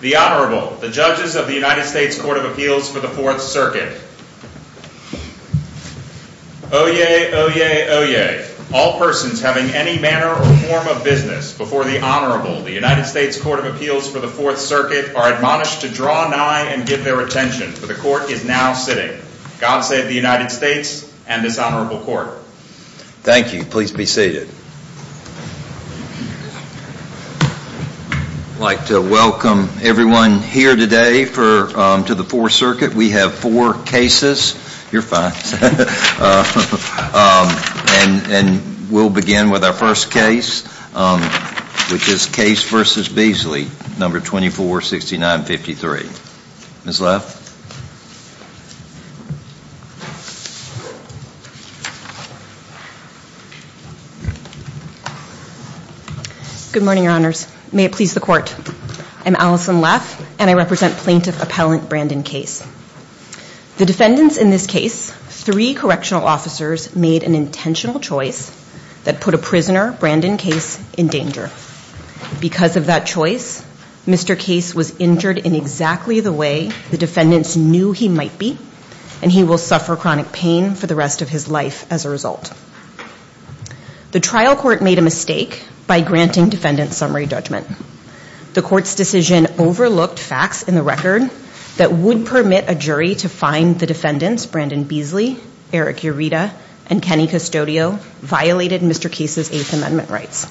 The Honorable, the Judges of the United States Court of Appeals for the Fourth Circuit. Oyez, oyez, oyez. All persons having any manner or form of business before the Honorable, the United States Court of Appeals for the Fourth Circuit, are admonished to draw nigh and give their attention, for the Court is now sitting. God save the United States and this Honorable Court. Thank you. Please be seated. I would like to welcome everyone here today to the Fourth Circuit. We have four cases. You're fine. And we'll begin with our first case, which is Case v. Beasley, number 246953. Ms. Leff. Good morning, Your Honors. May it please the Court. I'm Allison Leff and I represent Plaintiff Appellant Brandon Case. The defendants in this case, three correctional officers, made an intentional choice that put a prisoner, Brandon Case, in danger. Because of that choice, Mr. Case was injured in exactly the way the defendants knew he might be, and he will suffer chronic pain for the rest of his life as a result. The trial court made a mistake by granting defendants summary judgment. The Court's decision overlooked facts in the record that would permit a jury to find the defendants, Brandon Beasley, Eric Ureta, and Kenny Custodio, violated Mr. Case's Eighth Amendment rights.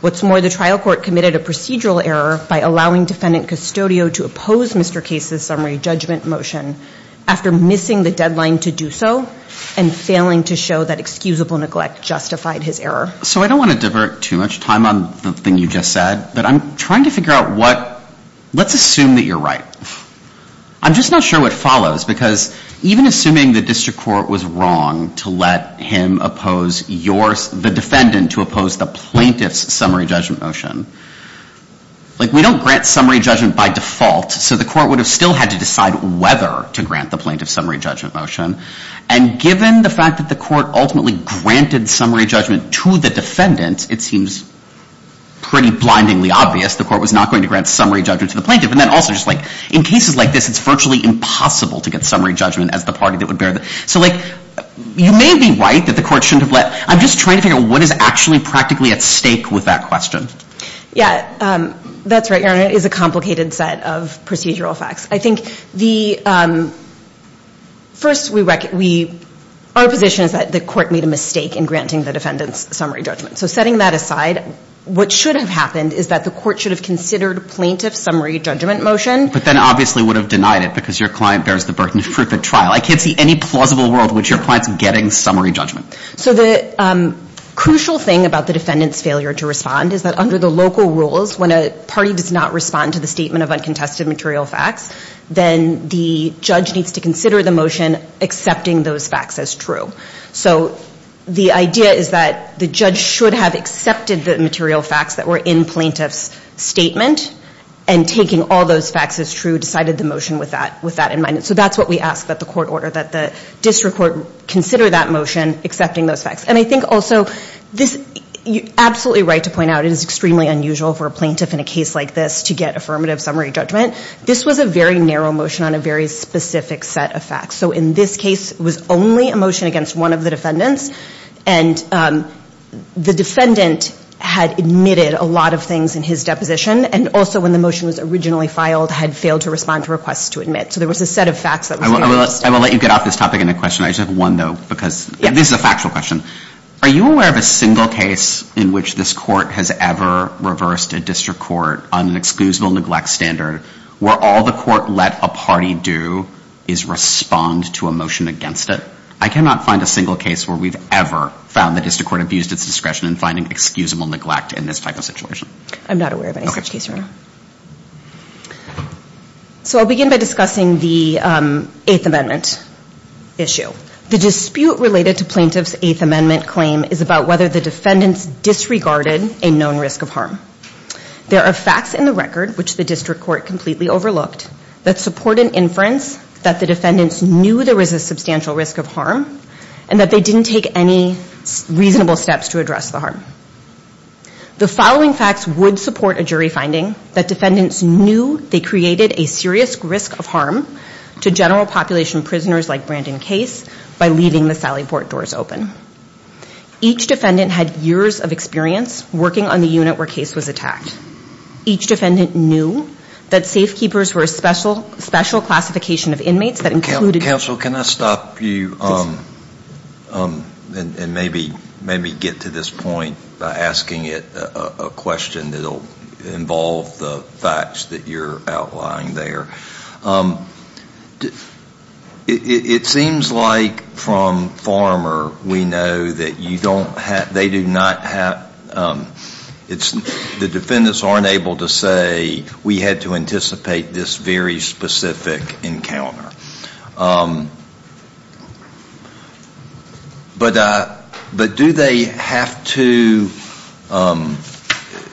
What's more, the trial court committed a procedural error by allowing defendant Custodio to oppose Mr. Case's summary judgment motion after missing the deadline to do so and failing to show that excusable neglect justified his error. So I don't want to divert too much time on the thing you just said, but I'm trying to figure out what, let's assume that you're right. I'm just not sure what follows, because even assuming the district court was wrong to let him oppose the defendant to oppose the plaintiff's summary judgment motion. We don't grant summary judgment by default, so the court would have still had to decide whether to grant the plaintiff's summary judgment motion. And given the fact that the court ultimately granted summary judgment to the defendant, it seems pretty blindingly obvious the court was not going to grant summary judgment to the plaintiff. And then also, in cases like this, it's virtually impossible to get summary judgment as the party that would bear it. So you may be right that the court shouldn't have let... I'm just trying to figure out what is actually practically at stake with that question. Yeah, that's right, Your Honor. It is a complicated set of procedural facts. I think the... First, our position is that the court made a mistake in granting the defendant's summary judgment. So setting that aside, what should have happened is that the court should have considered plaintiff's summary judgment motion. But then obviously would have denied it, because your client bears the burden for the trial. I can't see any plausible world in which your client's getting summary judgment. So the crucial thing about the defendant's failure to respond is that under the local rules, when a party does not respond to the motion, they should consider the motion accepting those facts as true. So the idea is that the judge should have accepted the material facts that were in plaintiff's statement, and taking all those facts as true, decided the motion with that in mind. So that's what we ask that the court order, that the district court consider that motion, accepting those facts. And I think also, you're absolutely right to point out it is extremely unusual for a plaintiff in a case like this to get affirmative summary judgment. This was a very narrow motion on a very specific set of facts. So in this case, it was only a motion against one of the defendants. And the defendant had admitted a lot of things in his deposition, and also when the motion was originally filed, had failed to respond to requests to admit. So there was a set of facts that was very interesting. I will let you get off this topic in a question. I just have one, though, because this is a factual question. Are you aware of a single case in which this court has ever reversed a district court on an excusable neglect standard where all the court let a party do is respond to a motion against it? I cannot find a single case where we've ever found the district court abused its discretion in finding excusable neglect in this type of situation. I'm not aware of any such case right now. So I'll begin by discussing the Eighth Amendment issue. The dispute related to plaintiff's Eighth Amendment claim is about whether the defendants disregarded a known risk of harm. There are facts in the record, which the district court completely overlooked, that support an inference that the defendants knew there was a substantial risk of harm, and that they didn't take any reasonable steps to address the harm. The following facts would support a jury finding that defendants knew they created a serious risk of harm to general population prisoners like Brandon Case by leaving the Sally Port doors open. Each defendant had years of experience working on the unit where Case was attacked. Each defendant knew that safekeepers were a special classification of inmates that included... Counsel, can I stop you and maybe get to this point by asking it a question that will involve the facts that you're outlining there? It seems like from Farmer we know that you don't have... They do not have... The defendants aren't able to say, we had to anticipate this very specific encounter. But do they have to...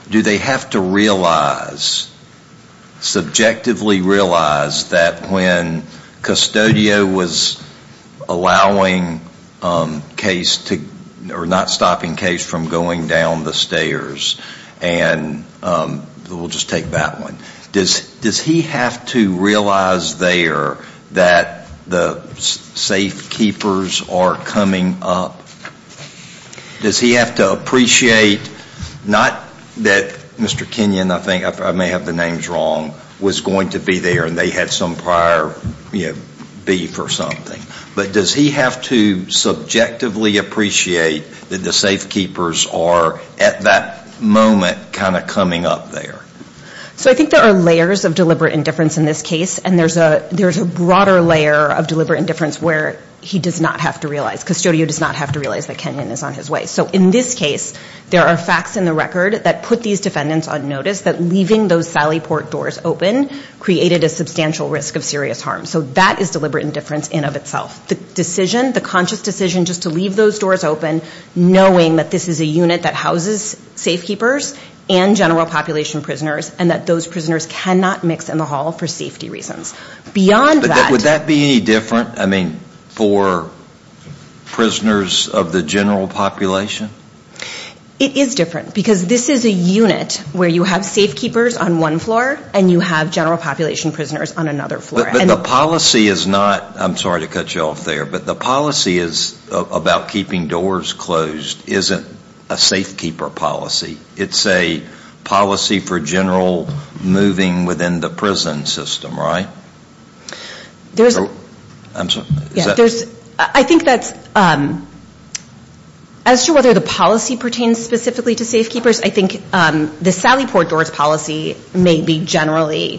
Do they have to realize, subjectively realize, that when Custodio was allowing Case to... Or not stopping Case from going down the stairs, and we'll just take that one. Does he have to realize there that the safekeepers are coming up? Does he have to appreciate, not that Mr. Kenyon, I think, I may have the names wrong, was going to be there, and they had some prior beef or something. But does he have to subjectively appreciate that the safekeepers are at that moment kind of coming up there? So I think there are layers of deliberate indifference in this case, and there's a broader layer of deliberate indifference where he does not have to realize. That Kenyon is on his way. So in this case, there are facts in the record that put these defendants on notice that leaving those sally port doors open created a substantial risk of serious harm. So that is deliberate indifference in and of itself. The decision, the conscious decision just to leave those doors open, knowing that this is a unit that houses safekeepers and general population prisoners, and that those prisoners cannot mix in the hall for safety reasons. Beyond that. Would that be any different for prisoners of the general population? It is different, because this is a unit where you have safekeepers on one floor and you have general population prisoners on another floor. But the policy is not, I'm sorry to cut you off there, but the policy is about keeping doors closed isn't a safekeeper policy. It's a policy for general moving within the prison system, right? I'm sorry. I think that's, as to whether the policy pertains specifically to safekeepers, I think the sally port doors policy may be generally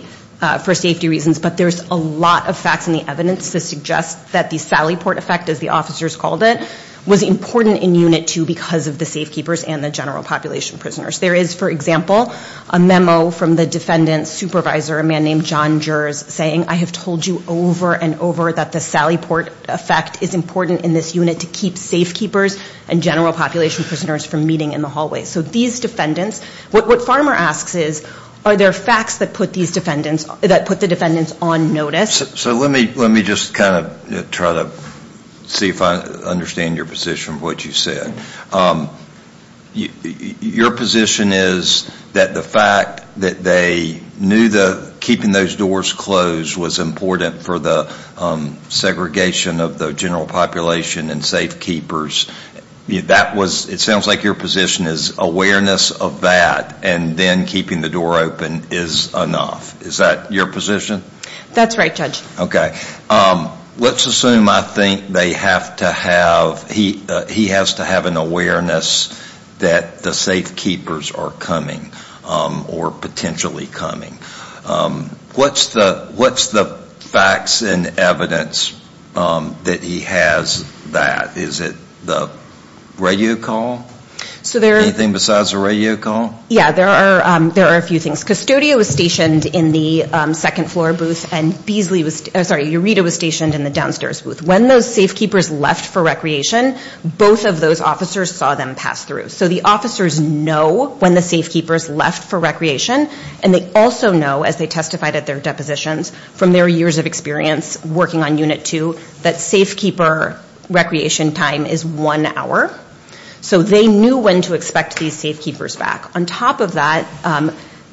for safety reasons. But there's a lot of facts in the evidence that suggest that the sally port effect, as the officers called it, was important in Unit 2 because of the safekeepers and the general population prisoners. There is, for example, a memo from the defendant's supervisor, a man named John Jers, saying, I have told you over and over that the sally port effect is important in this unit to keep safekeepers and general population prisoners from meeting in the hallway. So these defendants, what Farmer asks is, are there facts that put these defendants, that put the defendants on notice? So let me just kind of try to see if I understand your position, what you said. Your position is that the fact that they knew that keeping those doors closed was important for the segregation of the general population and safekeepers. That was, it sounds like your position is awareness of that and then keeping the door open is enough. Is that your position? That's right, Judge. Okay. Let's assume I think they have to have, he has to have an awareness that the safekeepers are coming or potentially coming. What's the facts and evidence that he has that? Is it the radio call? Anything besides the radio call? Yeah, there are a few things. Custodio was stationed in the second floor booth and Beasley was, sorry, Eureta was stationed in the downstairs booth. When those safekeepers left for recreation, both of those officers saw them pass through. So the officers know when the safekeepers left for recreation and they also know, as they testified at their depositions from their years of experience working on Unit 2, that safekeeper recreation time is one hour. So they knew when to expect these safekeepers back. On top of that,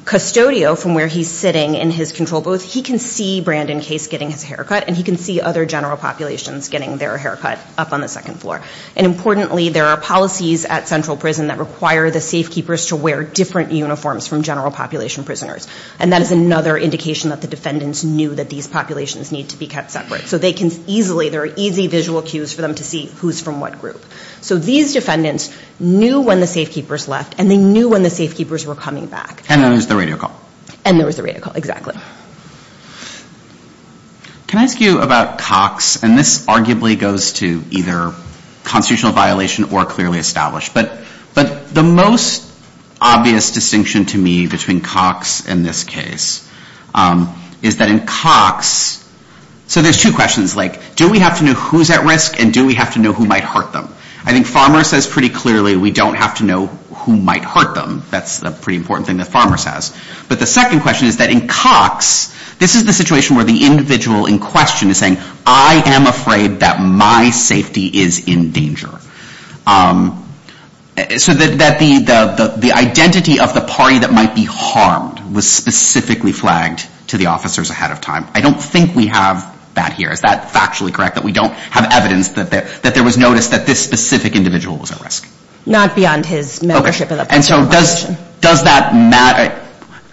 Custodio, from where he's sitting in his control booth, he can see Brandon Case getting his hair cut and he can see other general populations getting their hair cut up on the second floor. And importantly, there are policies at central prison that require the safekeepers to wear different uniforms from general population prisoners. And that is another indication that the defendants knew that these populations need to be kept separate. So they can easily, there are easy visual cues for them to see who's from what group. So these defendants knew when the safekeepers left and they knew when the safekeepers were coming back. And there was the radio call. And there was the radio call, exactly. Can I ask you about Cox? And this arguably goes to either constitutional violation or clearly established. But the most obvious distinction to me between Cox and this case is that in Cox, so there's two questions. Like, do we have to know who's at risk and do we have to know who might hurt them? I think Farmer says pretty clearly we don't have to know who might hurt them. That's a pretty important thing that Farmer says. But the second question is that in Cox, this is the situation where the individual in question is saying, I am afraid that my safety is in danger. So that the identity of the party that might be harmed was specifically flagged to the officers ahead of time. I don't think we have that here. Is that factually correct, that we don't have evidence that there was notice that this specific individual was at risk? Not beyond his membership.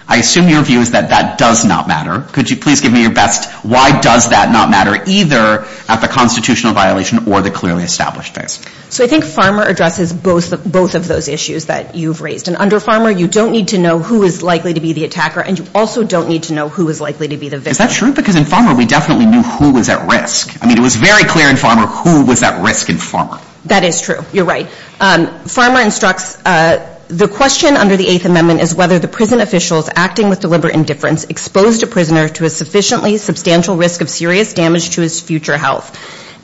I assume your view is that that does not matter. Could you please give me your best, why does that not matter, either at the constitutional violation or the clearly established case? So I think Farmer addresses both of those issues that you've raised. And under Farmer, you don't need to know who is likely to be the attacker. And you also don't need to know who is likely to be the victim. Is that true? Because in Farmer, we definitely knew who was at risk. I mean, it was very clear in Farmer who was at risk in Farmer. That is true. You're right. Farmer instructs, the question under the Eighth Amendment is whether the prison officials acting with deliberate indifference exposed a prisoner to a sufficiently substantial risk of serious damage to his future health.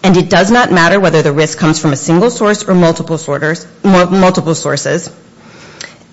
And it does not matter whether the risk comes from a single source or multiple sources.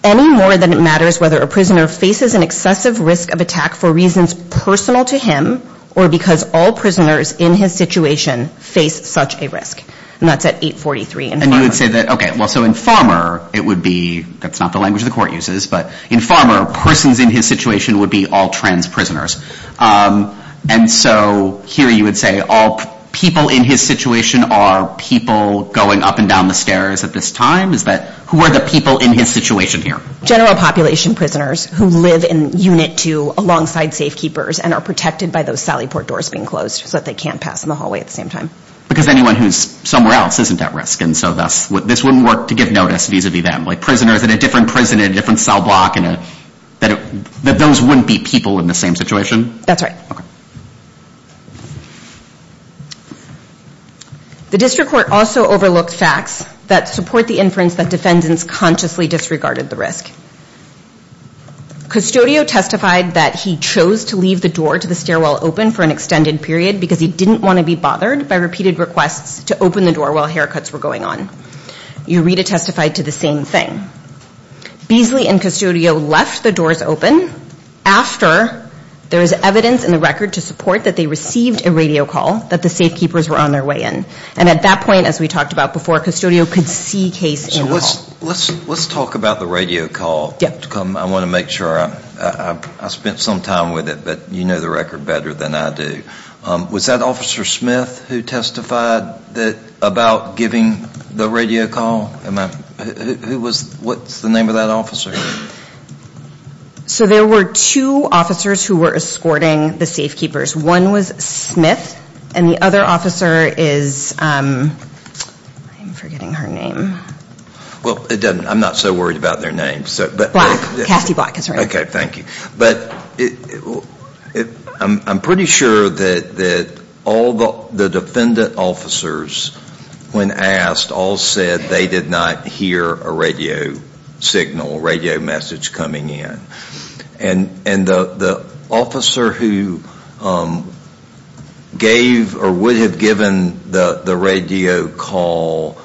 Any more than it matters whether a prisoner faces an excessive risk of attack for reasons personal to him, or because all prisoners in his situation face such a risk. And that's at 843 in Farmer. And you would say that, okay, so in Farmer, it would be, that's not the language the court uses, but in Farmer, persons in his situation would be all trans prisoners. And so here you would say all people in his situation are people going up and down the stairs at this time? Is that, who are the people in his situation here? General population prisoners who live in Unit 2 alongside safe keepers and are protected by those Sally Port doors being closed so that they can't pass in the hallway at the same time. Because anyone who's somewhere else isn't at risk. And so this wouldn't work to give notice vis-a-vis them. Like prisoners in a different prison in a different cell block, that those wouldn't be people in the same situation? That's right. The district court also overlooked facts that support the inference that defendants consciously disregarded the risk. Custodio testified that he chose to leave the door to the stairwell open for an extended period because he didn't want to be bothered by repeated requests to open the door while haircuts were going on. Eureta testified to the same thing. Beasley and Custodio left the doors open after there was evidence in the record to support that they received a radio call that the safe keepers were on their way in. And at that point, as we talked about before, Custodio could see case in the hall. Let's talk about the radio call. I want to make sure I spent some time with it, but you know the record better than I do. Was that Officer Smith who testified about giving the radio call? What's the name of that officer? So there were two officers who were escorting the safe keepers. One was Smith, and the other officer is, I'm forgetting her name. Well, I'm not so worried about their names. But I'm pretty sure that all the defendant officers, when asked, all said they did not hear a radio signal, a radio message coming in. And the officer who gave or would have given the radio call,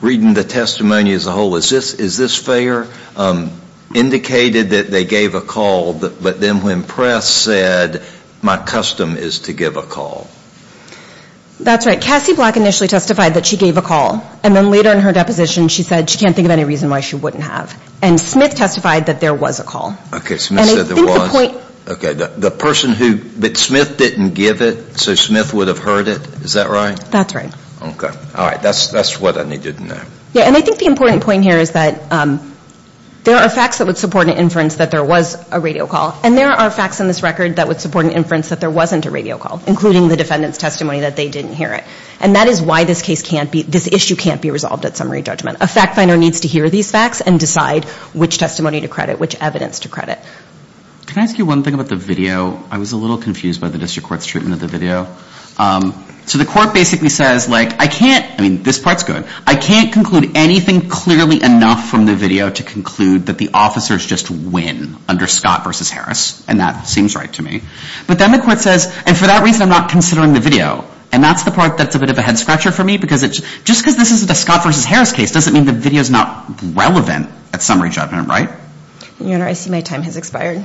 reading the testimony as a whole, is this fair? Indicated that they gave a call, but then when press said, my custom is to give a call. That's right. Cassie Black initially testified that she gave a call, and then later in her deposition she said she can't think of any reason why she wouldn't have. And Smith testified that there was a call. But Smith didn't give it, so Smith would have heard it, is that right? That's right. And I think the important point here is that there are facts that would support an inference that there was a radio call, and there are facts in this record that would support an inference that there wasn't a radio call, including the defendant's testimony that they didn't hear it. And that is why this issue can't be resolved at summary judgment. A fact finder needs to hear these facts and decide which testimony to credit, which evidence to credit. Can I ask you one thing about the video? I was a little confused by the district court's treatment of the video. So the court basically says, like, I can't, I mean, this part's good, I can't conclude anything clearly enough from the video to conclude that the officers just win under Scott v. Harris, and that seems right to me. But then the court says, and for that reason I'm not considering the video, and that's the part that's a bit of a head scratcher for me, because just because this isn't a Scott v. Harris case doesn't mean the video's not relevant at summary judgment, right? Your Honor, I see my time has expired.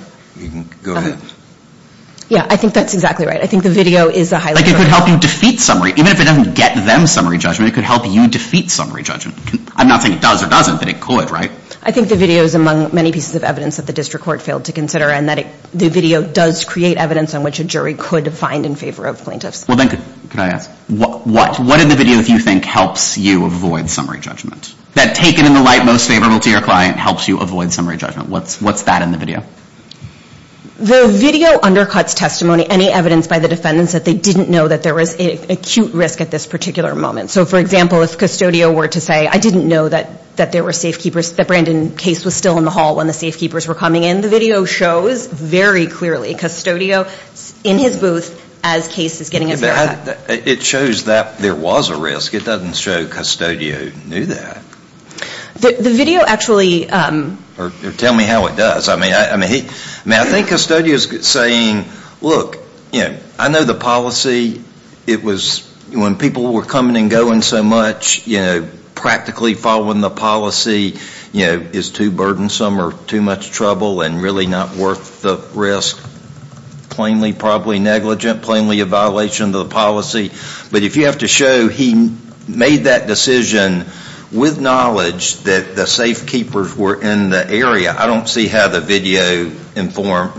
Yeah, I think that's exactly right. I think the video is a highlight. Like, it could help you defeat summary, even if it doesn't get them summary judgment, it could help you defeat summary judgment. I'm not saying it does or doesn't, but it could, right? I think the video is among many pieces of evidence that the district court failed to consider, and that the video does create evidence on which a jury could find in favor of plaintiffs. Well, then could I ask, what in the video do you think helps you avoid summary judgment? That taken in the light most favorable to your client helps you avoid summary judgment. What's that in the video? The video undercuts testimony, any evidence by the defendants that they didn't know that there was acute risk at this particular moment. So, for example, if Custodio were to say, I didn't know that there were safekeepers, that Brandon Case was still in the hall when the safekeepers were coming in, the video shows very clearly Custodio in his booth as Case is getting his haircut. It shows that there was a risk. It doesn't show Custodio knew that. The video actually... Tell me how it does. I mean, I think Custodio is saying, look, I know the policy. It was when people were coming and going so much, practically following the policy is too burdensome or too much trouble and really not worth the risk, plainly probably negligent, plainly a violation of the policy. But if you have to show he made that decision with knowledge that the safekeepers were in the area, I don't see how the video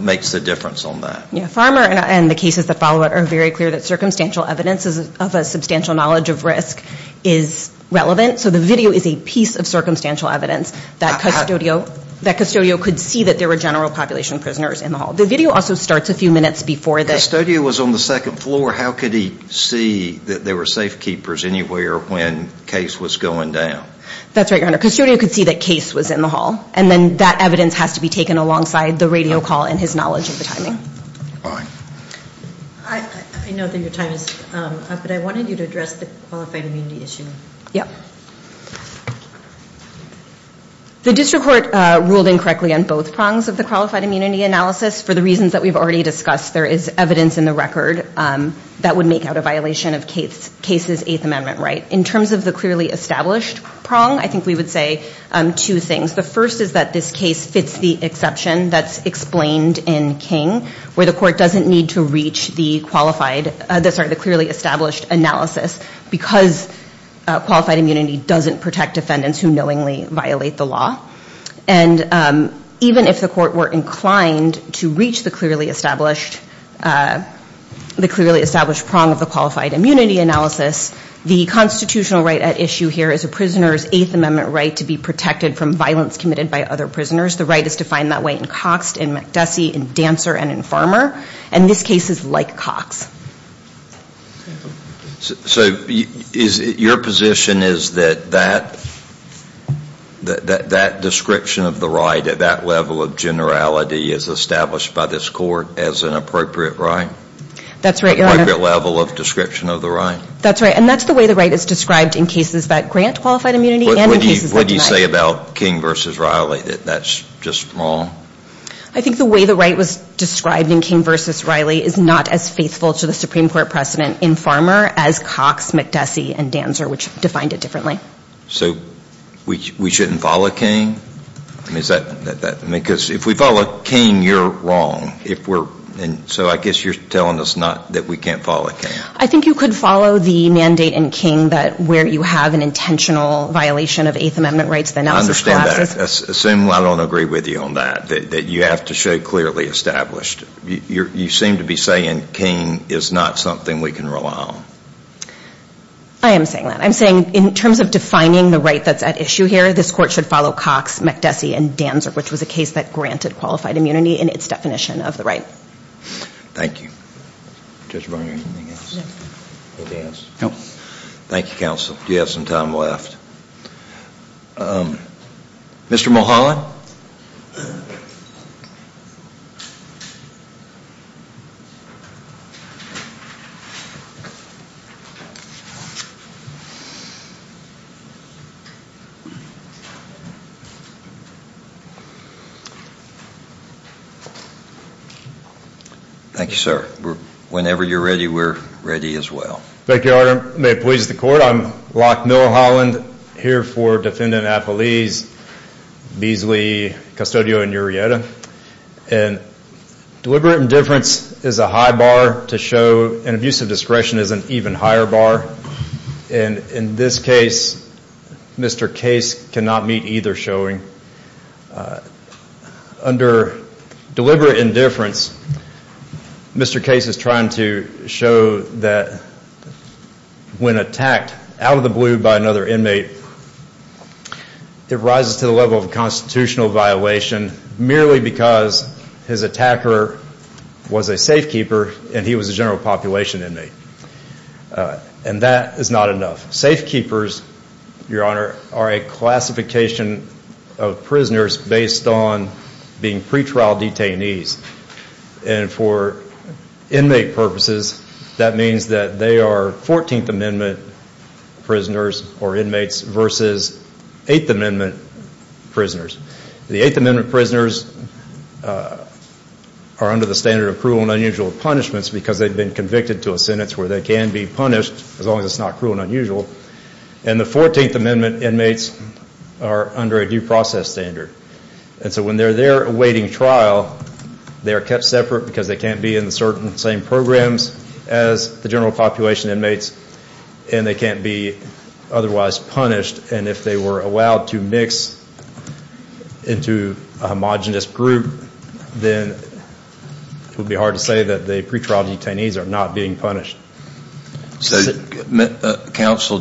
makes a difference on that. Farmer and the cases that follow it are very clear that circumstantial evidence of a substantial knowledge of risk is relevant. So the video is a piece of circumstantial evidence that Custodio could see that there were general population prisoners in the hall. The video also starts a few minutes before the... If Custodio was on the second floor, how could he see that there were safekeepers anywhere when Case was going down? That's right, Your Honor. Custodio could see that Case was in the hall. And then that evidence has to be taken alongside the radio call and his knowledge of the timing. I know that your time is up, but I wanted you to address the qualified immunity issue. The district court ruled incorrectly on both prongs of the qualified immunity analysis for the reasons that we've already discussed. There is evidence in the record that would make out a violation of Case's Eighth Amendment right. In terms of the clearly established prong, I think we would say two things. The first is that this case fits the exception that's explained in King, where the court doesn't need to reach the clearly established analysis because qualified immunity doesn't protect defendants who knowingly violate the law. And even if the court were inclined to reach the clearly established prong of the qualified immunity analysis, the constitutional right at issue here is a prisoner's Eighth Amendment right to be protected from violence committed by other prisoners. The right is defined that way in Cox, in McDussey, in Dancer, and in Farmer. And this case is like Cox. So your position is that that description of the right at that level of generality is established by this court as an appropriate right? That's right. And that's the way the right is described in cases that grant qualified immunity and in cases that deny it. What do you say about King v. Riley, that that's just wrong? I think the way the right was described in King v. Riley is not as faithful to the Supreme Court precedent in Farmer as Cox, McDussey, and Dancer, which defined it differently. So we shouldn't follow King? Because if we follow King, you're wrong. So I guess you're telling us that we can't follow King. I think you could follow the mandate in King where you have an intentional violation of Eighth Amendment rights. I understand that. Assume I don't agree with you on that, that you have to show clearly established. You seem to be saying King is not something we can rely on. I am saying that. I'm saying in terms of defining the right that's at issue here, this court should follow Cox, McDussey, and Dancer, which was a case that granted qualified immunity in its definition of the right. Thank you. Judge Barnard, anything else? No. Thank you, counsel. Do you have some time left? Thank you, sir. Whenever you're ready, we're ready as well. Thank you, Your Honor. May it please the court, I'm Locke Miller-Holland, here for Defendant Apeliz, Beasley, Custodio, and Urieta. And deliberate indifference is a high bar to show, and abuse of discretion is an even higher bar. And in this case, Mr. Case cannot meet either showing. Under deliberate indifference, Mr. Case is trying to show that when attacked out of the blue by another inmate, it rises to the level of constitutional violation, merely because his attacker was a safekeeper and he was a general population inmate. And that is not enough. Safekeepers, Your Honor, are a classification of prisoners based on being pretrial detainees. And for inmate purposes, that means that they are 14th Amendment prisoners or inmates versus 8th Amendment prisoners. The 8th Amendment prisoners are under the standard of cruel and unusual punishments because they've been convicted to a sentence where they can be punished, as long as it's not cruel and unusual. And the 14th Amendment inmates are under a due process standard. And so when they're there awaiting trial, they're kept separate because they can't be in the same programs as the general population inmates, and they can't be otherwise punished. And if they were allowed to mix into a homogenous group, then it would be hard to say that the pretrial detainees are not being punished. So, Counsel,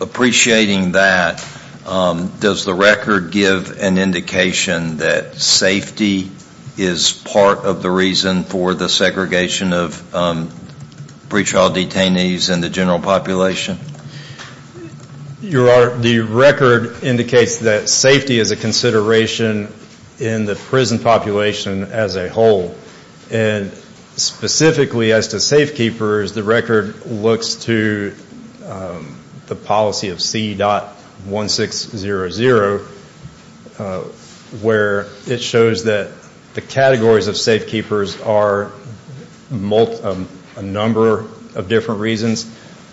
appreciating that, does the record give an indication that safety is part of the reason for the segregation of pretrial detainees in the general population? Your Honor, the record indicates that safety is a consideration in the prison population as a whole. And specifically as to safekeepers, the record looks to the policy of C.1600, where it shows that the categories of safekeepers are a number of different reasons.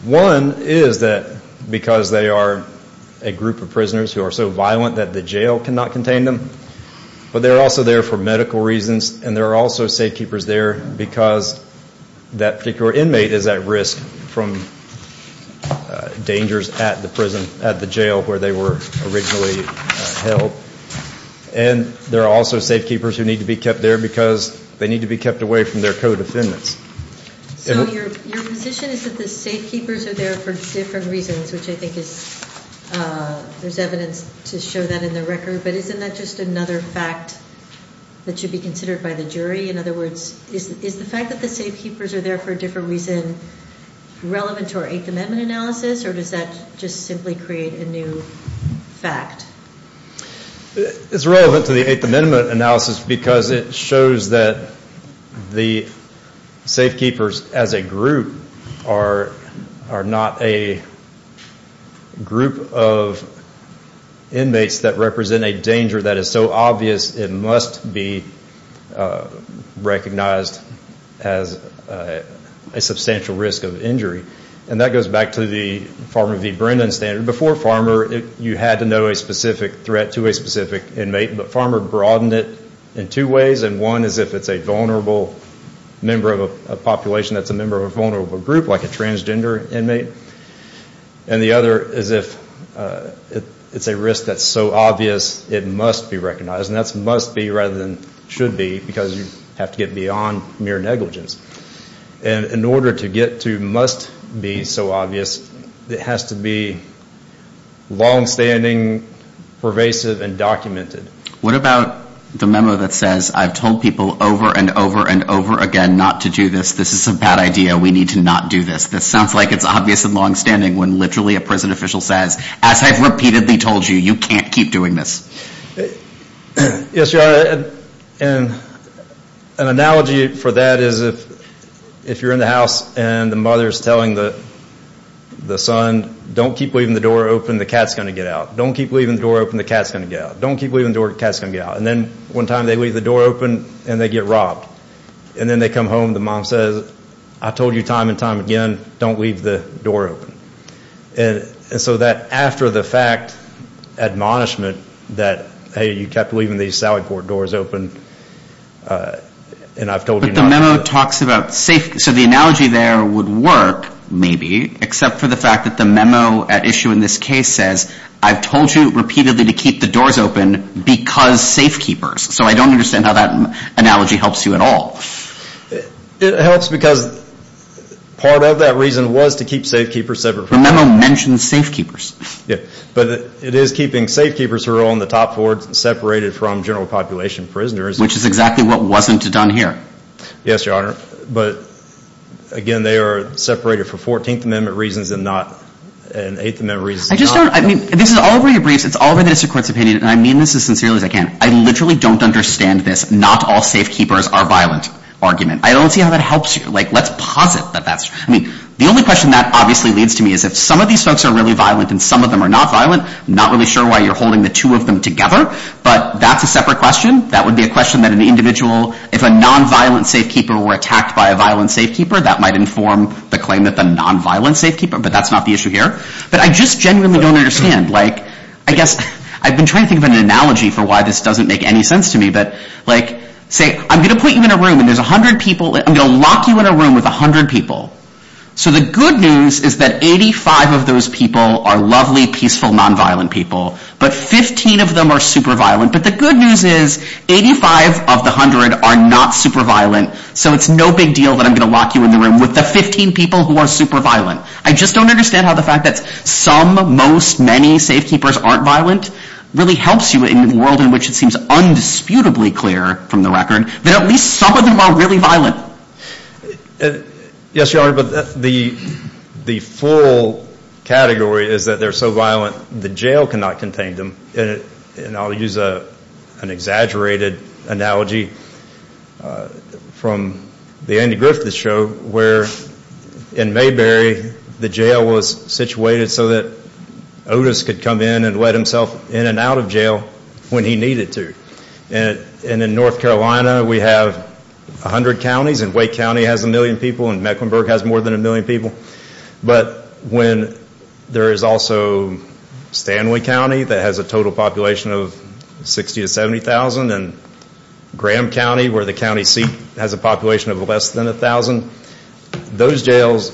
One is that because they are a group of prisoners who are so violent that the jail cannot contain them, but they're also there for medical reasons, and there are also safekeepers there because that particular inmate is at risk from dangers at the prison, at the jail where they were originally held. And there are also safekeepers who need to be kept there because they need to be kept away from their co-defendants. So your position is that the safekeepers are there for different reasons, which I think is, there's evidence to show that in the record. But isn't that just another fact that should be considered by the jury? In other words, is the fact that the safekeepers are there for a different reason relevant to our Eighth Amendment analysis, or does that just simply create a new fact? It's relevant to the Eighth Amendment analysis because it shows that the safekeepers as a group are not a group of inmates that represent a general population. They are a group of inmates that represent a general population. And that goes back to the Farmer v. Brennan standard. Before Farmer, you had to know a specific threat to a specific inmate, but Farmer broadened it in two ways. And one is if it's a vulnerable member of a population that's a member of a vulnerable group, like a transgender inmate. And the other is if it's a risk that's so obvious it must be recognized. And that's must be rather than should be because you have to get beyond mere negligence. And in order to get to must be so obvious, it has to be longstanding, pervasive, and documented. What about the memo that says, I've told people over and over and over again not to do this, this is a bad idea, we need to not do this. This sounds like it's obvious and longstanding when literally a prison official says, as I've repeatedly told you, you can't keep doing this. An analogy for that is if you're in the house and the mother's telling the son, don't keep leaving the door open, the cat's going to get out. Don't keep leaving the door open, the cat's going to get out. And then one time they leave the door open and they get robbed. And then they come home, the mom says, I told you time and time again, don't leave the door open. And so that after the fact admonishment that, hey, you kept leaving these salad board doors open, and I've told you not to do it. But the memo talks about safety, so the analogy there would work, maybe, except for the fact that the memo at issue in this case says, I've told you repeatedly to keep the doors open, because safe keepers. So I don't understand how that analogy helps you at all. It helps because part of that reason was to keep safe keepers separate. The memo mentions safe keepers. But it is keeping safe keepers who are on the top floor separated from general population prisoners. Which is exactly what wasn't done here. Yes, Your Honor. But again, they are separated for 14th Amendment reasons and not 8th Amendment reasons. I just don't, I mean, this is all over your briefs, it's all over the district court's opinion, and I mean this as sincerely as I can. I literally don't understand this not all safe keepers are violent argument. I don't see how that helps you. Like, let's posit that that's, I mean, the only question that obviously leads to me is if some of these folks are really violent and some of them are not violent, I'm not really sure why you're holding the two of them together, but that's a separate question. That would be a question that an individual, if a non-violent safe keeper were attacked by a violent safe keeper, that might inform the claim that the non-violent safe keeper, but that's not the issue here. But I just genuinely don't understand, like, I guess I've been trying to think of an analogy for why this doesn't make any sense to me, that, like, say, I'm going to put you in a room and there's 100 people, I'm going to lock you in a room with 100 people. So the good news is that 85 of those people are lovely, peaceful, non-violent people, but 15 of them are super violent. But the good news is 85 of the 100 are not super violent, so it's no big deal that I'm going to lock you in the room with the 15 people who are super violent. I just don't understand how the fact that some, most, many safe keepers aren't violent really helps you in a world in which it seems undisputable. It's abundantly clear from the record that at least some of them are really violent. Yes, Your Honor, but the full category is that they're so violent the jail cannot contain them. And I'll use an exaggerated analogy from the Andy Griffith show where in Mayberry the jail was situated so that Otis could come in and let himself in and out of jail when he needed to. And in North Carolina we have 100 counties and Wake County has a million people and Mecklenburg has more than a million people. But when there is also Stanley County that has a total population of 60 to 70,000 and Graham County where the county seat has a population of less than 1,000, those jails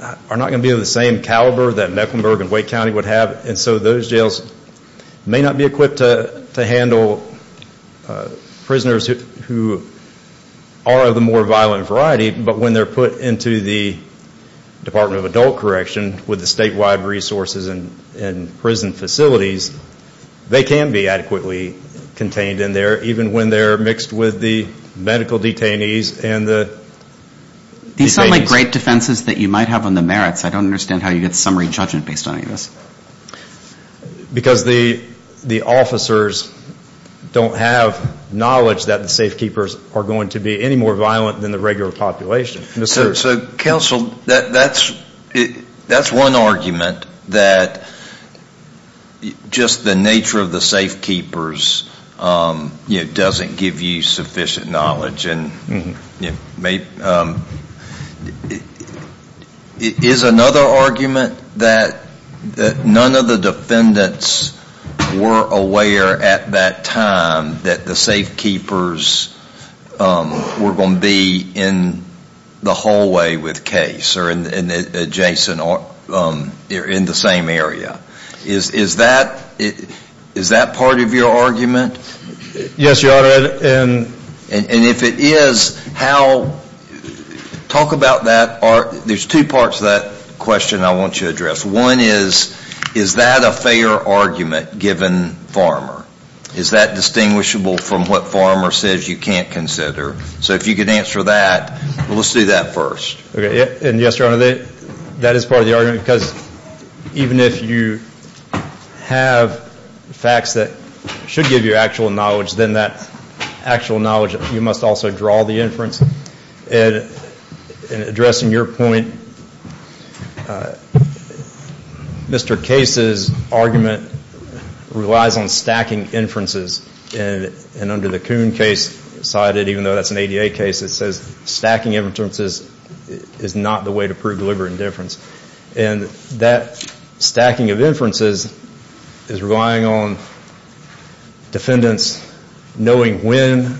are not going to be of the same caliber that Mecklenburg and Wake County would have. And so those jails may not be equipped to handle prisoners who are of the more violent variety. But when they're put into the Department of Adult Correction with the statewide resources and prison facilities, they can be adequately contained in there even when they're mixed with the medical detainees. These sound like great defenses that you might have on the merits. I don't understand how you get summary judgment based on any of this. Because the officers don't have knowledge that the safekeepers are going to be any more violent than the regular population. So counsel, that's one argument that just the nature of the safekeepers doesn't give you sufficient knowledge. Is another argument that none of the defendants were aware at that time that the safekeepers were going to be in the hallway with case or adjacent or in the same area? Is that part of your argument? Yes, Your Honor. And if it is, talk about that. There's two parts to that question I want you to address. One is, is that a fair argument given Farmer? Is that distinguishable from what Farmer says you can't consider? So if you could answer that, let's do that first. Yes, Your Honor, that is part of the argument because even if you have facts that should give you actual knowledge, then that actual knowledge, you must also draw the inference. Addressing your point, Mr. Case's argument relies on stacking inferences. And under the Kuhn case cited, even though that's an ADA case, it says stacking inferences is not the way to prove deliberate indifference. And that stacking of inferences is relying on defendants knowing when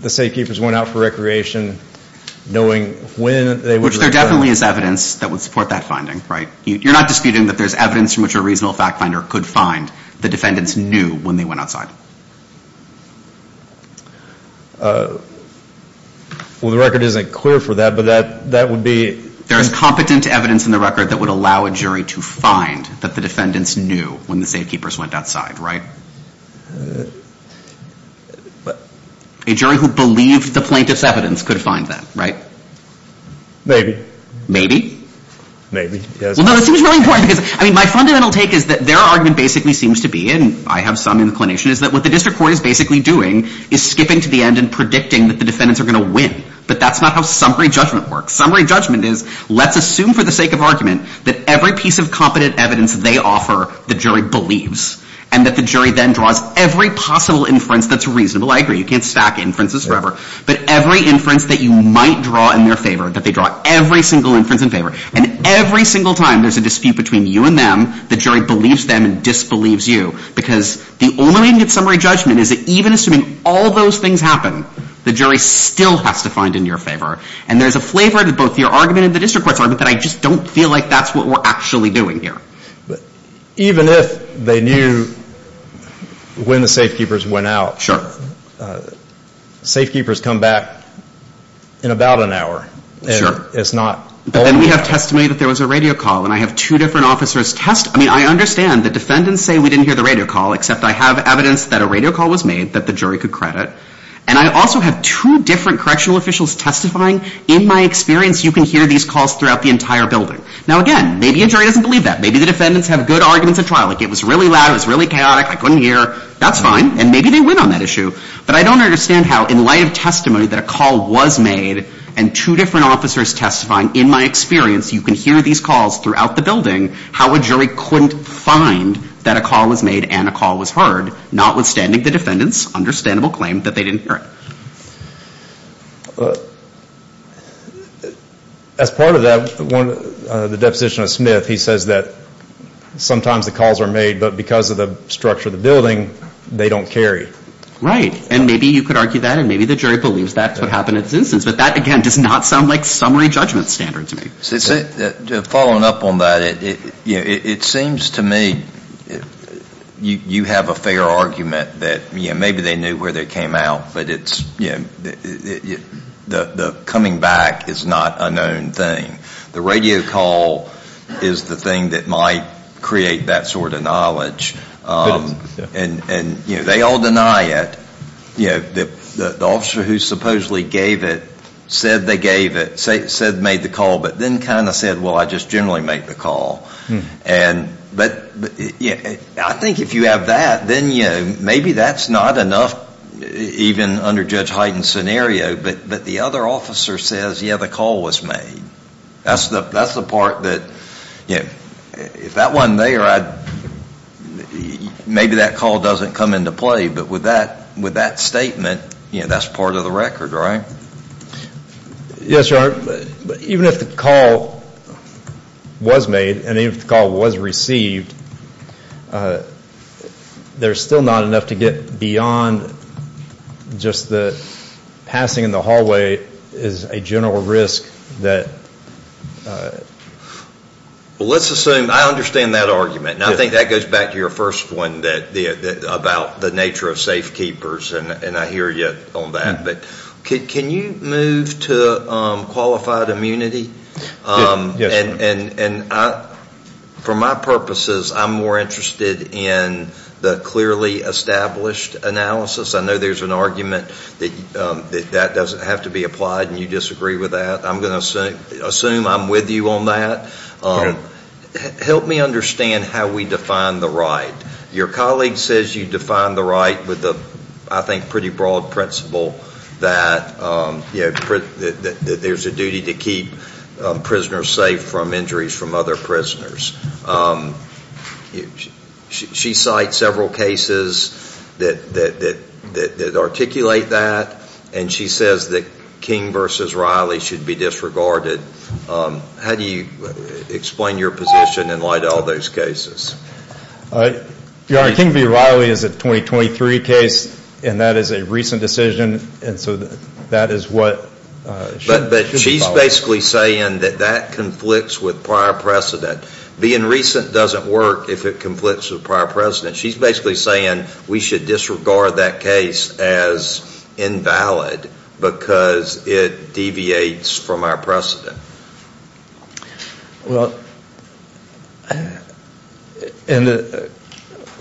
the safekeepers went out for recreation, knowing when they went outside. Which there definitely is evidence that would support that finding, right? You're not disputing that there's evidence from which a reasonable fact finder could find the defendants knew when they went outside? Well, the record isn't clear for that, but that would be... There is competent evidence in the record that would allow a jury to find that the defendants knew when the safekeepers went outside, right? A jury who believed the plaintiff's evidence could find that, right? Maybe. My fundamental take is that their argument basically seems to be, and I have some inclination, is that what the district court is basically doing is skipping to the end and predicting that the defendants are going to win. But that's not how summary judgment works. Summary judgment is, let's assume for the sake of argument that every piece of competent evidence they offer, the jury believes. And that the jury then draws every possible inference that's reasonable. And every single time there's a dispute between you and them, the jury believes them and disbelieves you. Because the only way to get summary judgment is that even assuming all those things happen, the jury still has to find in your favor. And there's a flavor to both your argument and the district court's argument that I just don't feel like that's what we're actually doing here. Even if they knew when the safekeepers went out, safekeepers come back in about an hour. But then we have testimony that there was a radio call, and I have two different officers test... I have evidence that a radio call was made that the jury could credit. And I also have two different correctional officials testifying. In my experience, you can hear these calls throughout the entire building. Now, again, maybe a jury doesn't believe that. Maybe the defendants have good arguments at trial, like it was really loud, it was really chaotic, I couldn't hear. That's fine. And maybe they win on that issue. But I don't understand how, in light of testimony that a call was made, and two different officers testifying, in my experience, you can hear these calls throughout the building, how a jury couldn't find that a call was made and a call was heard, notwithstanding the defendants' understandable claim that they didn't hear it. As part of that, the deposition of Smith, he says that sometimes the calls are made, but because of the structure of the building, they don't carry. Right. And maybe you could argue that, and maybe the jury believes that's what happened in this instance. But that, again, does not sound like summary judgment standard to me. Following up on that, it seems to me you have a fair argument that maybe they knew where they came out, but the coming back is not a known thing. The radio call is the thing that might create that sort of knowledge. And they all deny it. The officer who supposedly gave it said they gave it, said made the call, but then kind of said, well, I just generally make the call. And I think if you have that, then maybe that's not enough, even under Judge Hyten's scenario. But the other officer says, yeah, the call was made. That's the part that, if that wasn't there, maybe that call doesn't come into play. But with that statement, that's part of the record, right? Yes, Your Honor. Even if the call was made, and even if the call was received, there's still not enough to get beyond just the passing in the hallway is a general risk Well, let's assume, I understand that argument. And I think that goes back to your first one about the nature of safe keepers, and I hear you on that. But can you move to qualified immunity? For my purposes, I'm more interested in the clearly established analysis. I know there's an argument that that doesn't have to be applied, and you disagree with that. I'm going to assume I'm with you on that. Help me understand how we define the right. Your colleague says you define the right with, I think, a pretty broad principle that there's a duty to keep prisoners safe from injuries from other prisoners. She cites several cases that articulate that. And she says that King v. Riley should be disregarded. How do you explain your position in light of all those cases? Your Honor, King v. Riley is a 2023 case, and that is a recent decision. But she's basically saying that that conflicts with prior precedent. Being recent doesn't work if it conflicts with prior precedent. She's basically saying we should disregard that case as invalid because it deviates from our precedent. Well,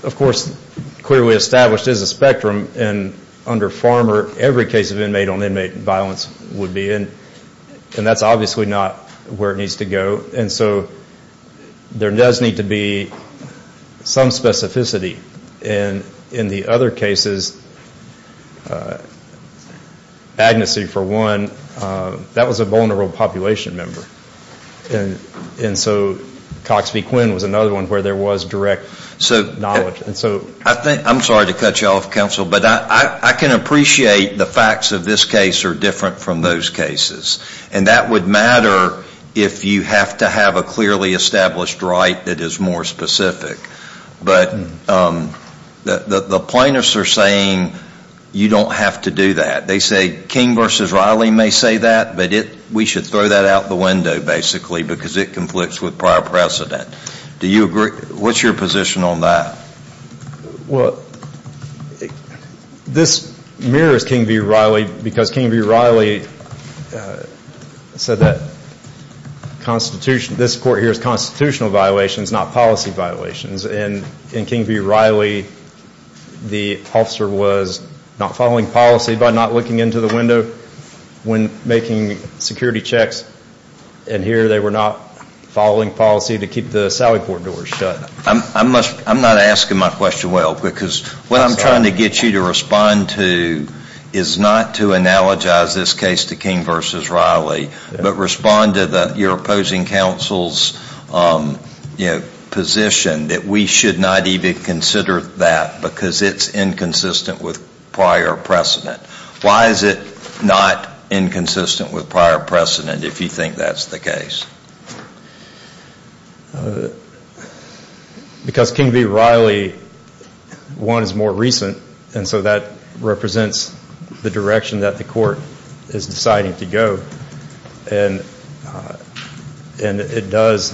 of course, clearly established is a spectrum. And under Farmer, every case of inmate-on-inmate violence would be. And that's obviously not where it needs to go. And so there does need to be some specificity. And in the other cases, Agnesy, for one, that was a vulnerable population member. And so Cox v. Quinn was another one where there was direct knowledge. I'm sorry to cut you off, counsel, but I can appreciate the facts of this case are different from those cases. And that would matter if you have to have a clearly established right that is more specific. But the plaintiffs are saying you don't have to do that. They say King v. Riley may say that, but we should throw that out the window basically because it conflicts with prior precedent. What's your position on that? Well, this mirrors King v. Riley because King v. Riley said that this court here is constitutional violations, not policy violations. And in King v. Riley, the officer was not following policy by not looking into the window when making security checks. And here they were not following policy to keep the Sallyport doors shut. I'm not asking my question well because what I'm trying to get you to respond to is not to analogize this case to King v. Riley, but respond to your opposing counsel's position that we should not even consider that because it's inconsistent with prior precedent. Why is it not inconsistent with prior precedent if you think that's the case? Because King v. Riley, one, is more recent, and so that represents the direction that the court is deciding to go. And it does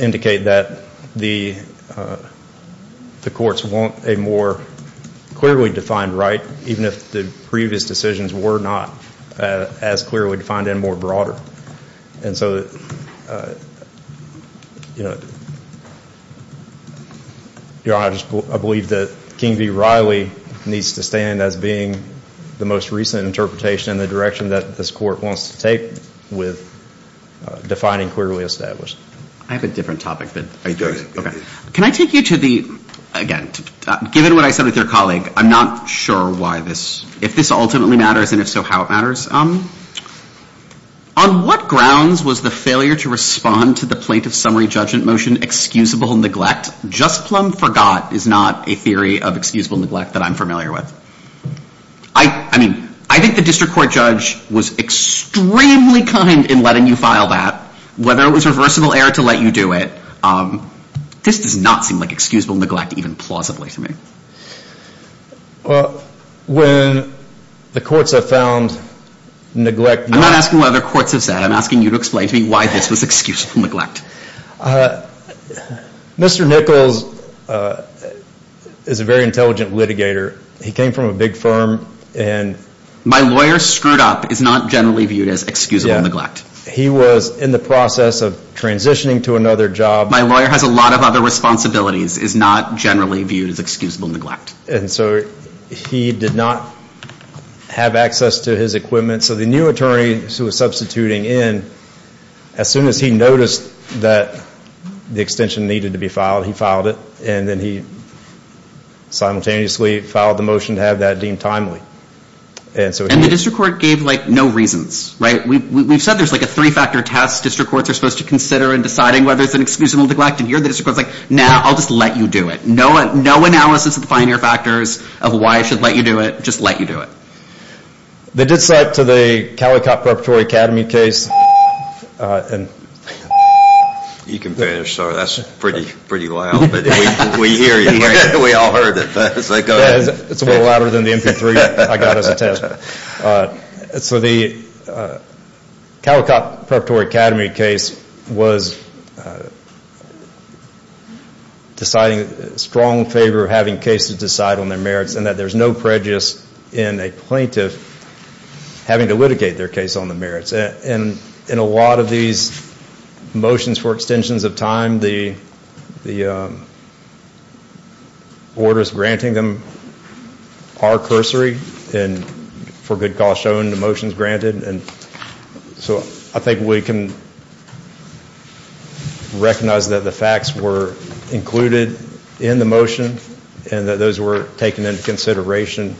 indicate that the courts want a more clearly defined right, even if the previous decisions were not as clearly defined and more broader. And so I believe that King v. Riley needs to stand as being the most recent interpretation and the direction that this court wants to take with defining clearly established. I have a different topic. Can I take you to the, again, given what I said with your colleague, I'm not sure why this, if this ultimately matters, and if so, how it matters. On what grounds was the failure to respond to the plaintiff's summary judgment motion excusable neglect? Just plumb forgot is not a theory of excusable neglect that I'm familiar with. I mean, I think the district court judge was extremely kind in letting you file that. Whether it was reversible error to let you do it, this does not seem like excusable neglect even plausibly to me. Well, when the courts have found neglect... I'm not asking what other courts have said. I'm asking you to explain to me why this was excusable neglect. Mr. Nichols is a very intelligent litigator. He came from a big firm and... My lawyer screwed up is not generally viewed as excusable neglect. He was in the process of transitioning to another job. My lawyer has a lot of other responsibilities is not generally viewed as excusable neglect. And so he did not have access to his equipment. So the new attorney who was substituting in, as soon as he noticed that the extension needed to be filed, he filed it. And then he simultaneously filed the motion to have that deemed timely. And the district court gave, like, no reasons, right? We've said there's like a three-factor test district courts are supposed to consider in deciding whether it's an excusable neglect. And here the district court is like, nah, I'll just let you do it. No analysis of the fine-air factors of why I should let you do it. Just let you do it. They did cite to the Calicop Preparatory Academy case... You can finish, sir. That's pretty loud. But we hear you. We all heard it. It's a little louder than the MP3 I got as a test. So the Calicop Preparatory Academy case was deciding in strong favor of having cases decided on their merits and that there's no prejudice in a plaintiff having to litigate their case on the merits. And in a lot of these motions for extensions of time, some of the orders granting them are cursory and for good cause shown in the motions granted. So I think we can recognize that the facts were included in the motion and that those were taken into consideration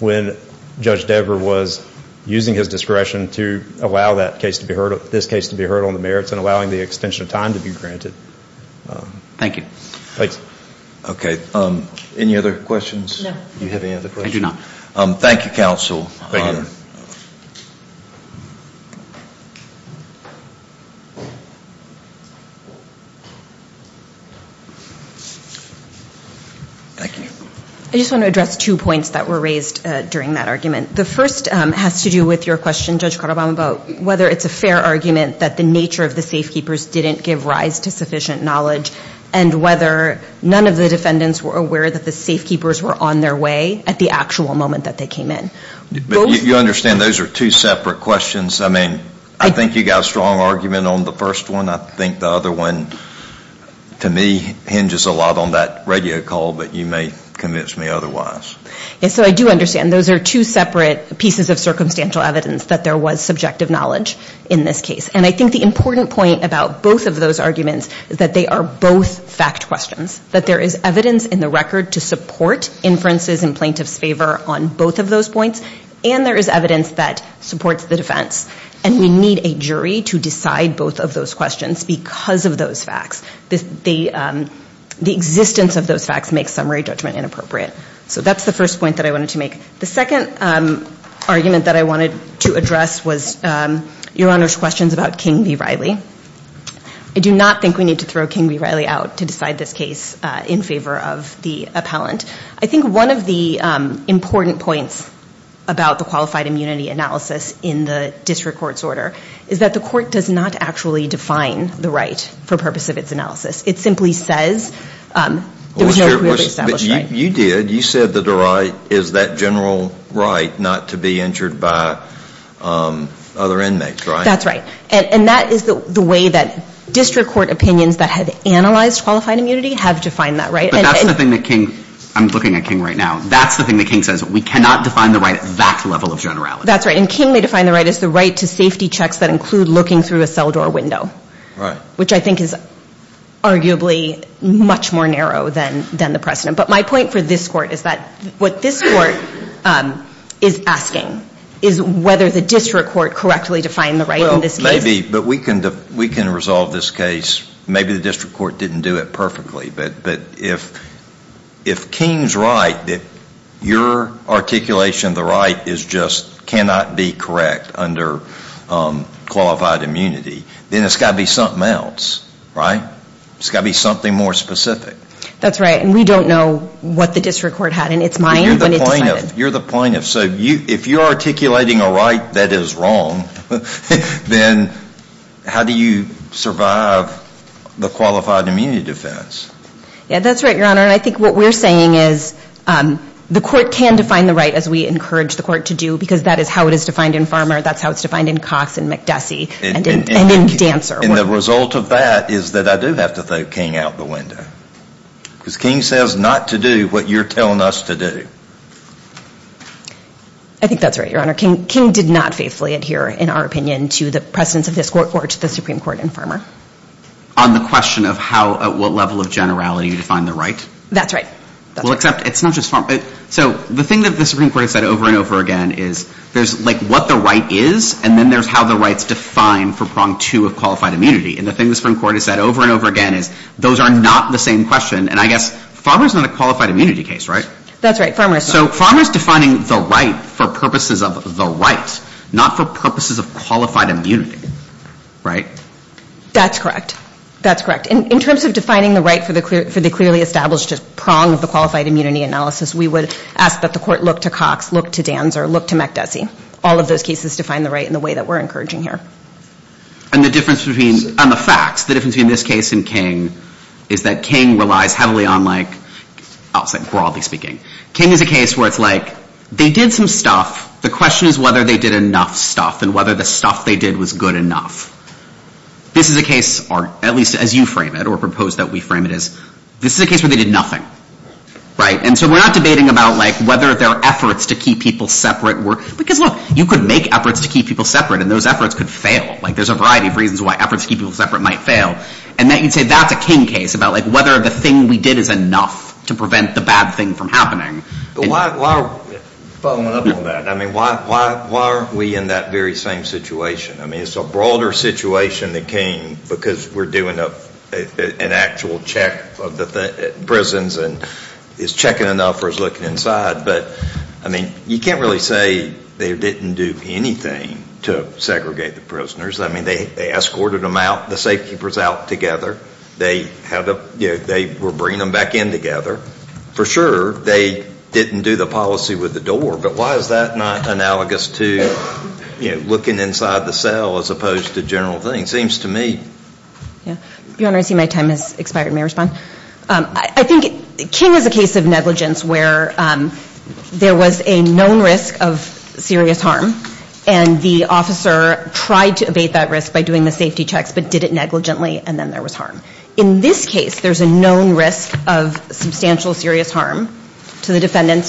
when Judge Dever was using his discretion to allow this case to be heard on the merits and allowing the extension of time to be granted. Thank you. Any other questions? I just want to address two points that were raised during that argument. The first has to do with whether it's a fair argument that the nature of the safekeepers didn't give rise to sufficient knowledge and whether none of the defendants were aware that the safekeepers were on their way at the actual moment that they came in. You understand those are two separate questions. I mean, I think you got a strong argument on the first one. I think the other one, to me, hinges a lot on that radio call, but you may convince me otherwise. So I do understand. Those are two separate pieces of circumstantial evidence that there was subjective knowledge in this case. And I think the important point about both of those arguments is that they are both fact questions, that there is evidence in the record to support inferences in plaintiff's favor on both of those points, and there is evidence that supports the defense. And we need a jury to decide both of those questions because of those facts. The existence of those facts makes summary judgment inappropriate. So that's the first point that I wanted to make. The second argument that I wanted to address was Your Honor's questions about King v. Riley. I do not think we need to throw King v. Riley out to decide this case in favor of the appellant. I think one of the important points about the qualified immunity analysis in the district court's order is that the court does not actually define the right for purpose of its analysis. It simply says there was no previously established right. You did. You said that the right is that general right not to be injured by other inmates, right? That's right. And that is the way that district court opinions that have analyzed qualified immunity have defined that right. But that's the thing that King, I'm looking at King right now, that's the thing that King says. We cannot define the right at that level of generality. That's right. And King may define the right as the right to safety checks that include looking through a cell door window. Which I think is arguably much more narrow than the precedent. But my point for this court is that what this court is asking is whether the district court correctly defined the right in this case. Maybe. But we can resolve this case. Maybe the district court didn't do it perfectly. But if King's right that your articulation of the right is just cannot be correct under qualified immunity, then it's got to be something else, right? It's got to be something more specific. That's right. And we don't know what the district court had in its mind when it decided. You're the plaintiff. So if you're articulating a right that is wrong, then how do you survive the qualified immunity defense? Yeah, that's right, Your Honor. And I think what we're saying is the court can define the right as we encourage the court to do, because that is how it is defined in Farmer. That's how it's defined in Cox and McDessie and in Dancer. And the result of that is that I do have to throw King out the window. Because King says not to do what you're telling us to do. I think that's right, Your Honor. King did not faithfully adhere, in our opinion, to the precedence of this court or to the Supreme Court in Farmer. On the question of how at what level of generality you define the right? That's right. Well, except it's not just Farmer. So the thing that the Supreme Court has said over and over again is there's like what the right is, and then there's how the right's defined for prong two of qualified immunity. And the thing the Supreme Court has said over and over again is those are not the same question. And I guess Farmer's not a qualified immunity case, right? That's right, Farmer is not. So Farmer's defining the right for purposes of the right, not for purposes of qualified immunity, right? That's correct. That's correct. And in terms of defining the right for the clearly established prong of the qualified immunity analysis, we would ask that the court look to Cox, look to Dancer, look to MacDessy. All of those cases define the right in the way that we're encouraging here. And the difference between, on the facts, the difference between this case and King is that King relies heavily on like, I'll say broadly speaking. King is a case where it's like they did some stuff. The question is whether they did enough stuff and whether the stuff they did was good enough. This is a case, or at least as you frame it or propose that we frame it as, this is a case where they did nothing, right? And so we're not debating about like whether their efforts to keep people separate were, because look, you could make efforts to keep people separate, and those efforts could fail. Like there's a variety of reasons why efforts to keep people separate might fail. And then you'd say that's a King case about like whether the thing we did is enough to prevent the bad thing from happening. But why, following up on that, I mean, why aren't we in that very same situation? I mean, it's a broader situation than King because we're doing an actual check of the prisons and is checking enough or is looking inside. But I mean, you can't really say they didn't do anything to segregate the prisoners. I mean, they escorted them out, the safekeepers out together. They were bringing them back in together. For sure, they didn't do the policy with the door, but why is that not analogous to looking inside the cell as opposed to general things? It seems to me. Your Honor, I see my time has expired. May I respond? I think King is a case of negligence where there was a known risk of serious harm, and the officer tried to abate that risk by doing the safety checks, but did it negligently, and then there was harm. In this case, there's a known risk of substantial serious harm to the defendants.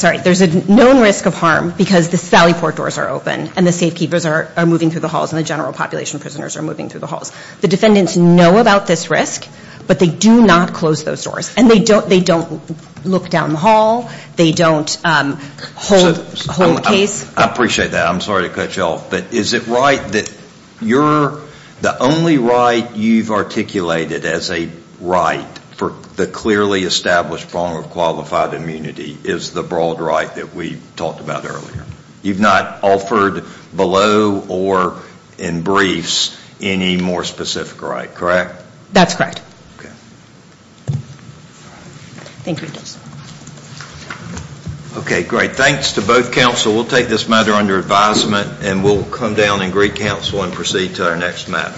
Sorry, there's a known risk of harm because the sally port doors are open and the safekeepers are moving through the halls and the general population of prisoners are moving through the halls. The defendants know about this risk, but they do not close those doors, and they don't look down the hall. They don't hold the case. I appreciate that. I'm sorry to cut you off, but is it right that the only right you've articulated as a right for the clearly established form of qualified immunity is the broad right that we talked about earlier? You've not offered below or in briefs any more specific right, correct? That's correct. Thank you. Okay, great. Thanks to both counsel. We'll take this matter under advisement, and we'll come down and greet counsel and proceed to our next matter.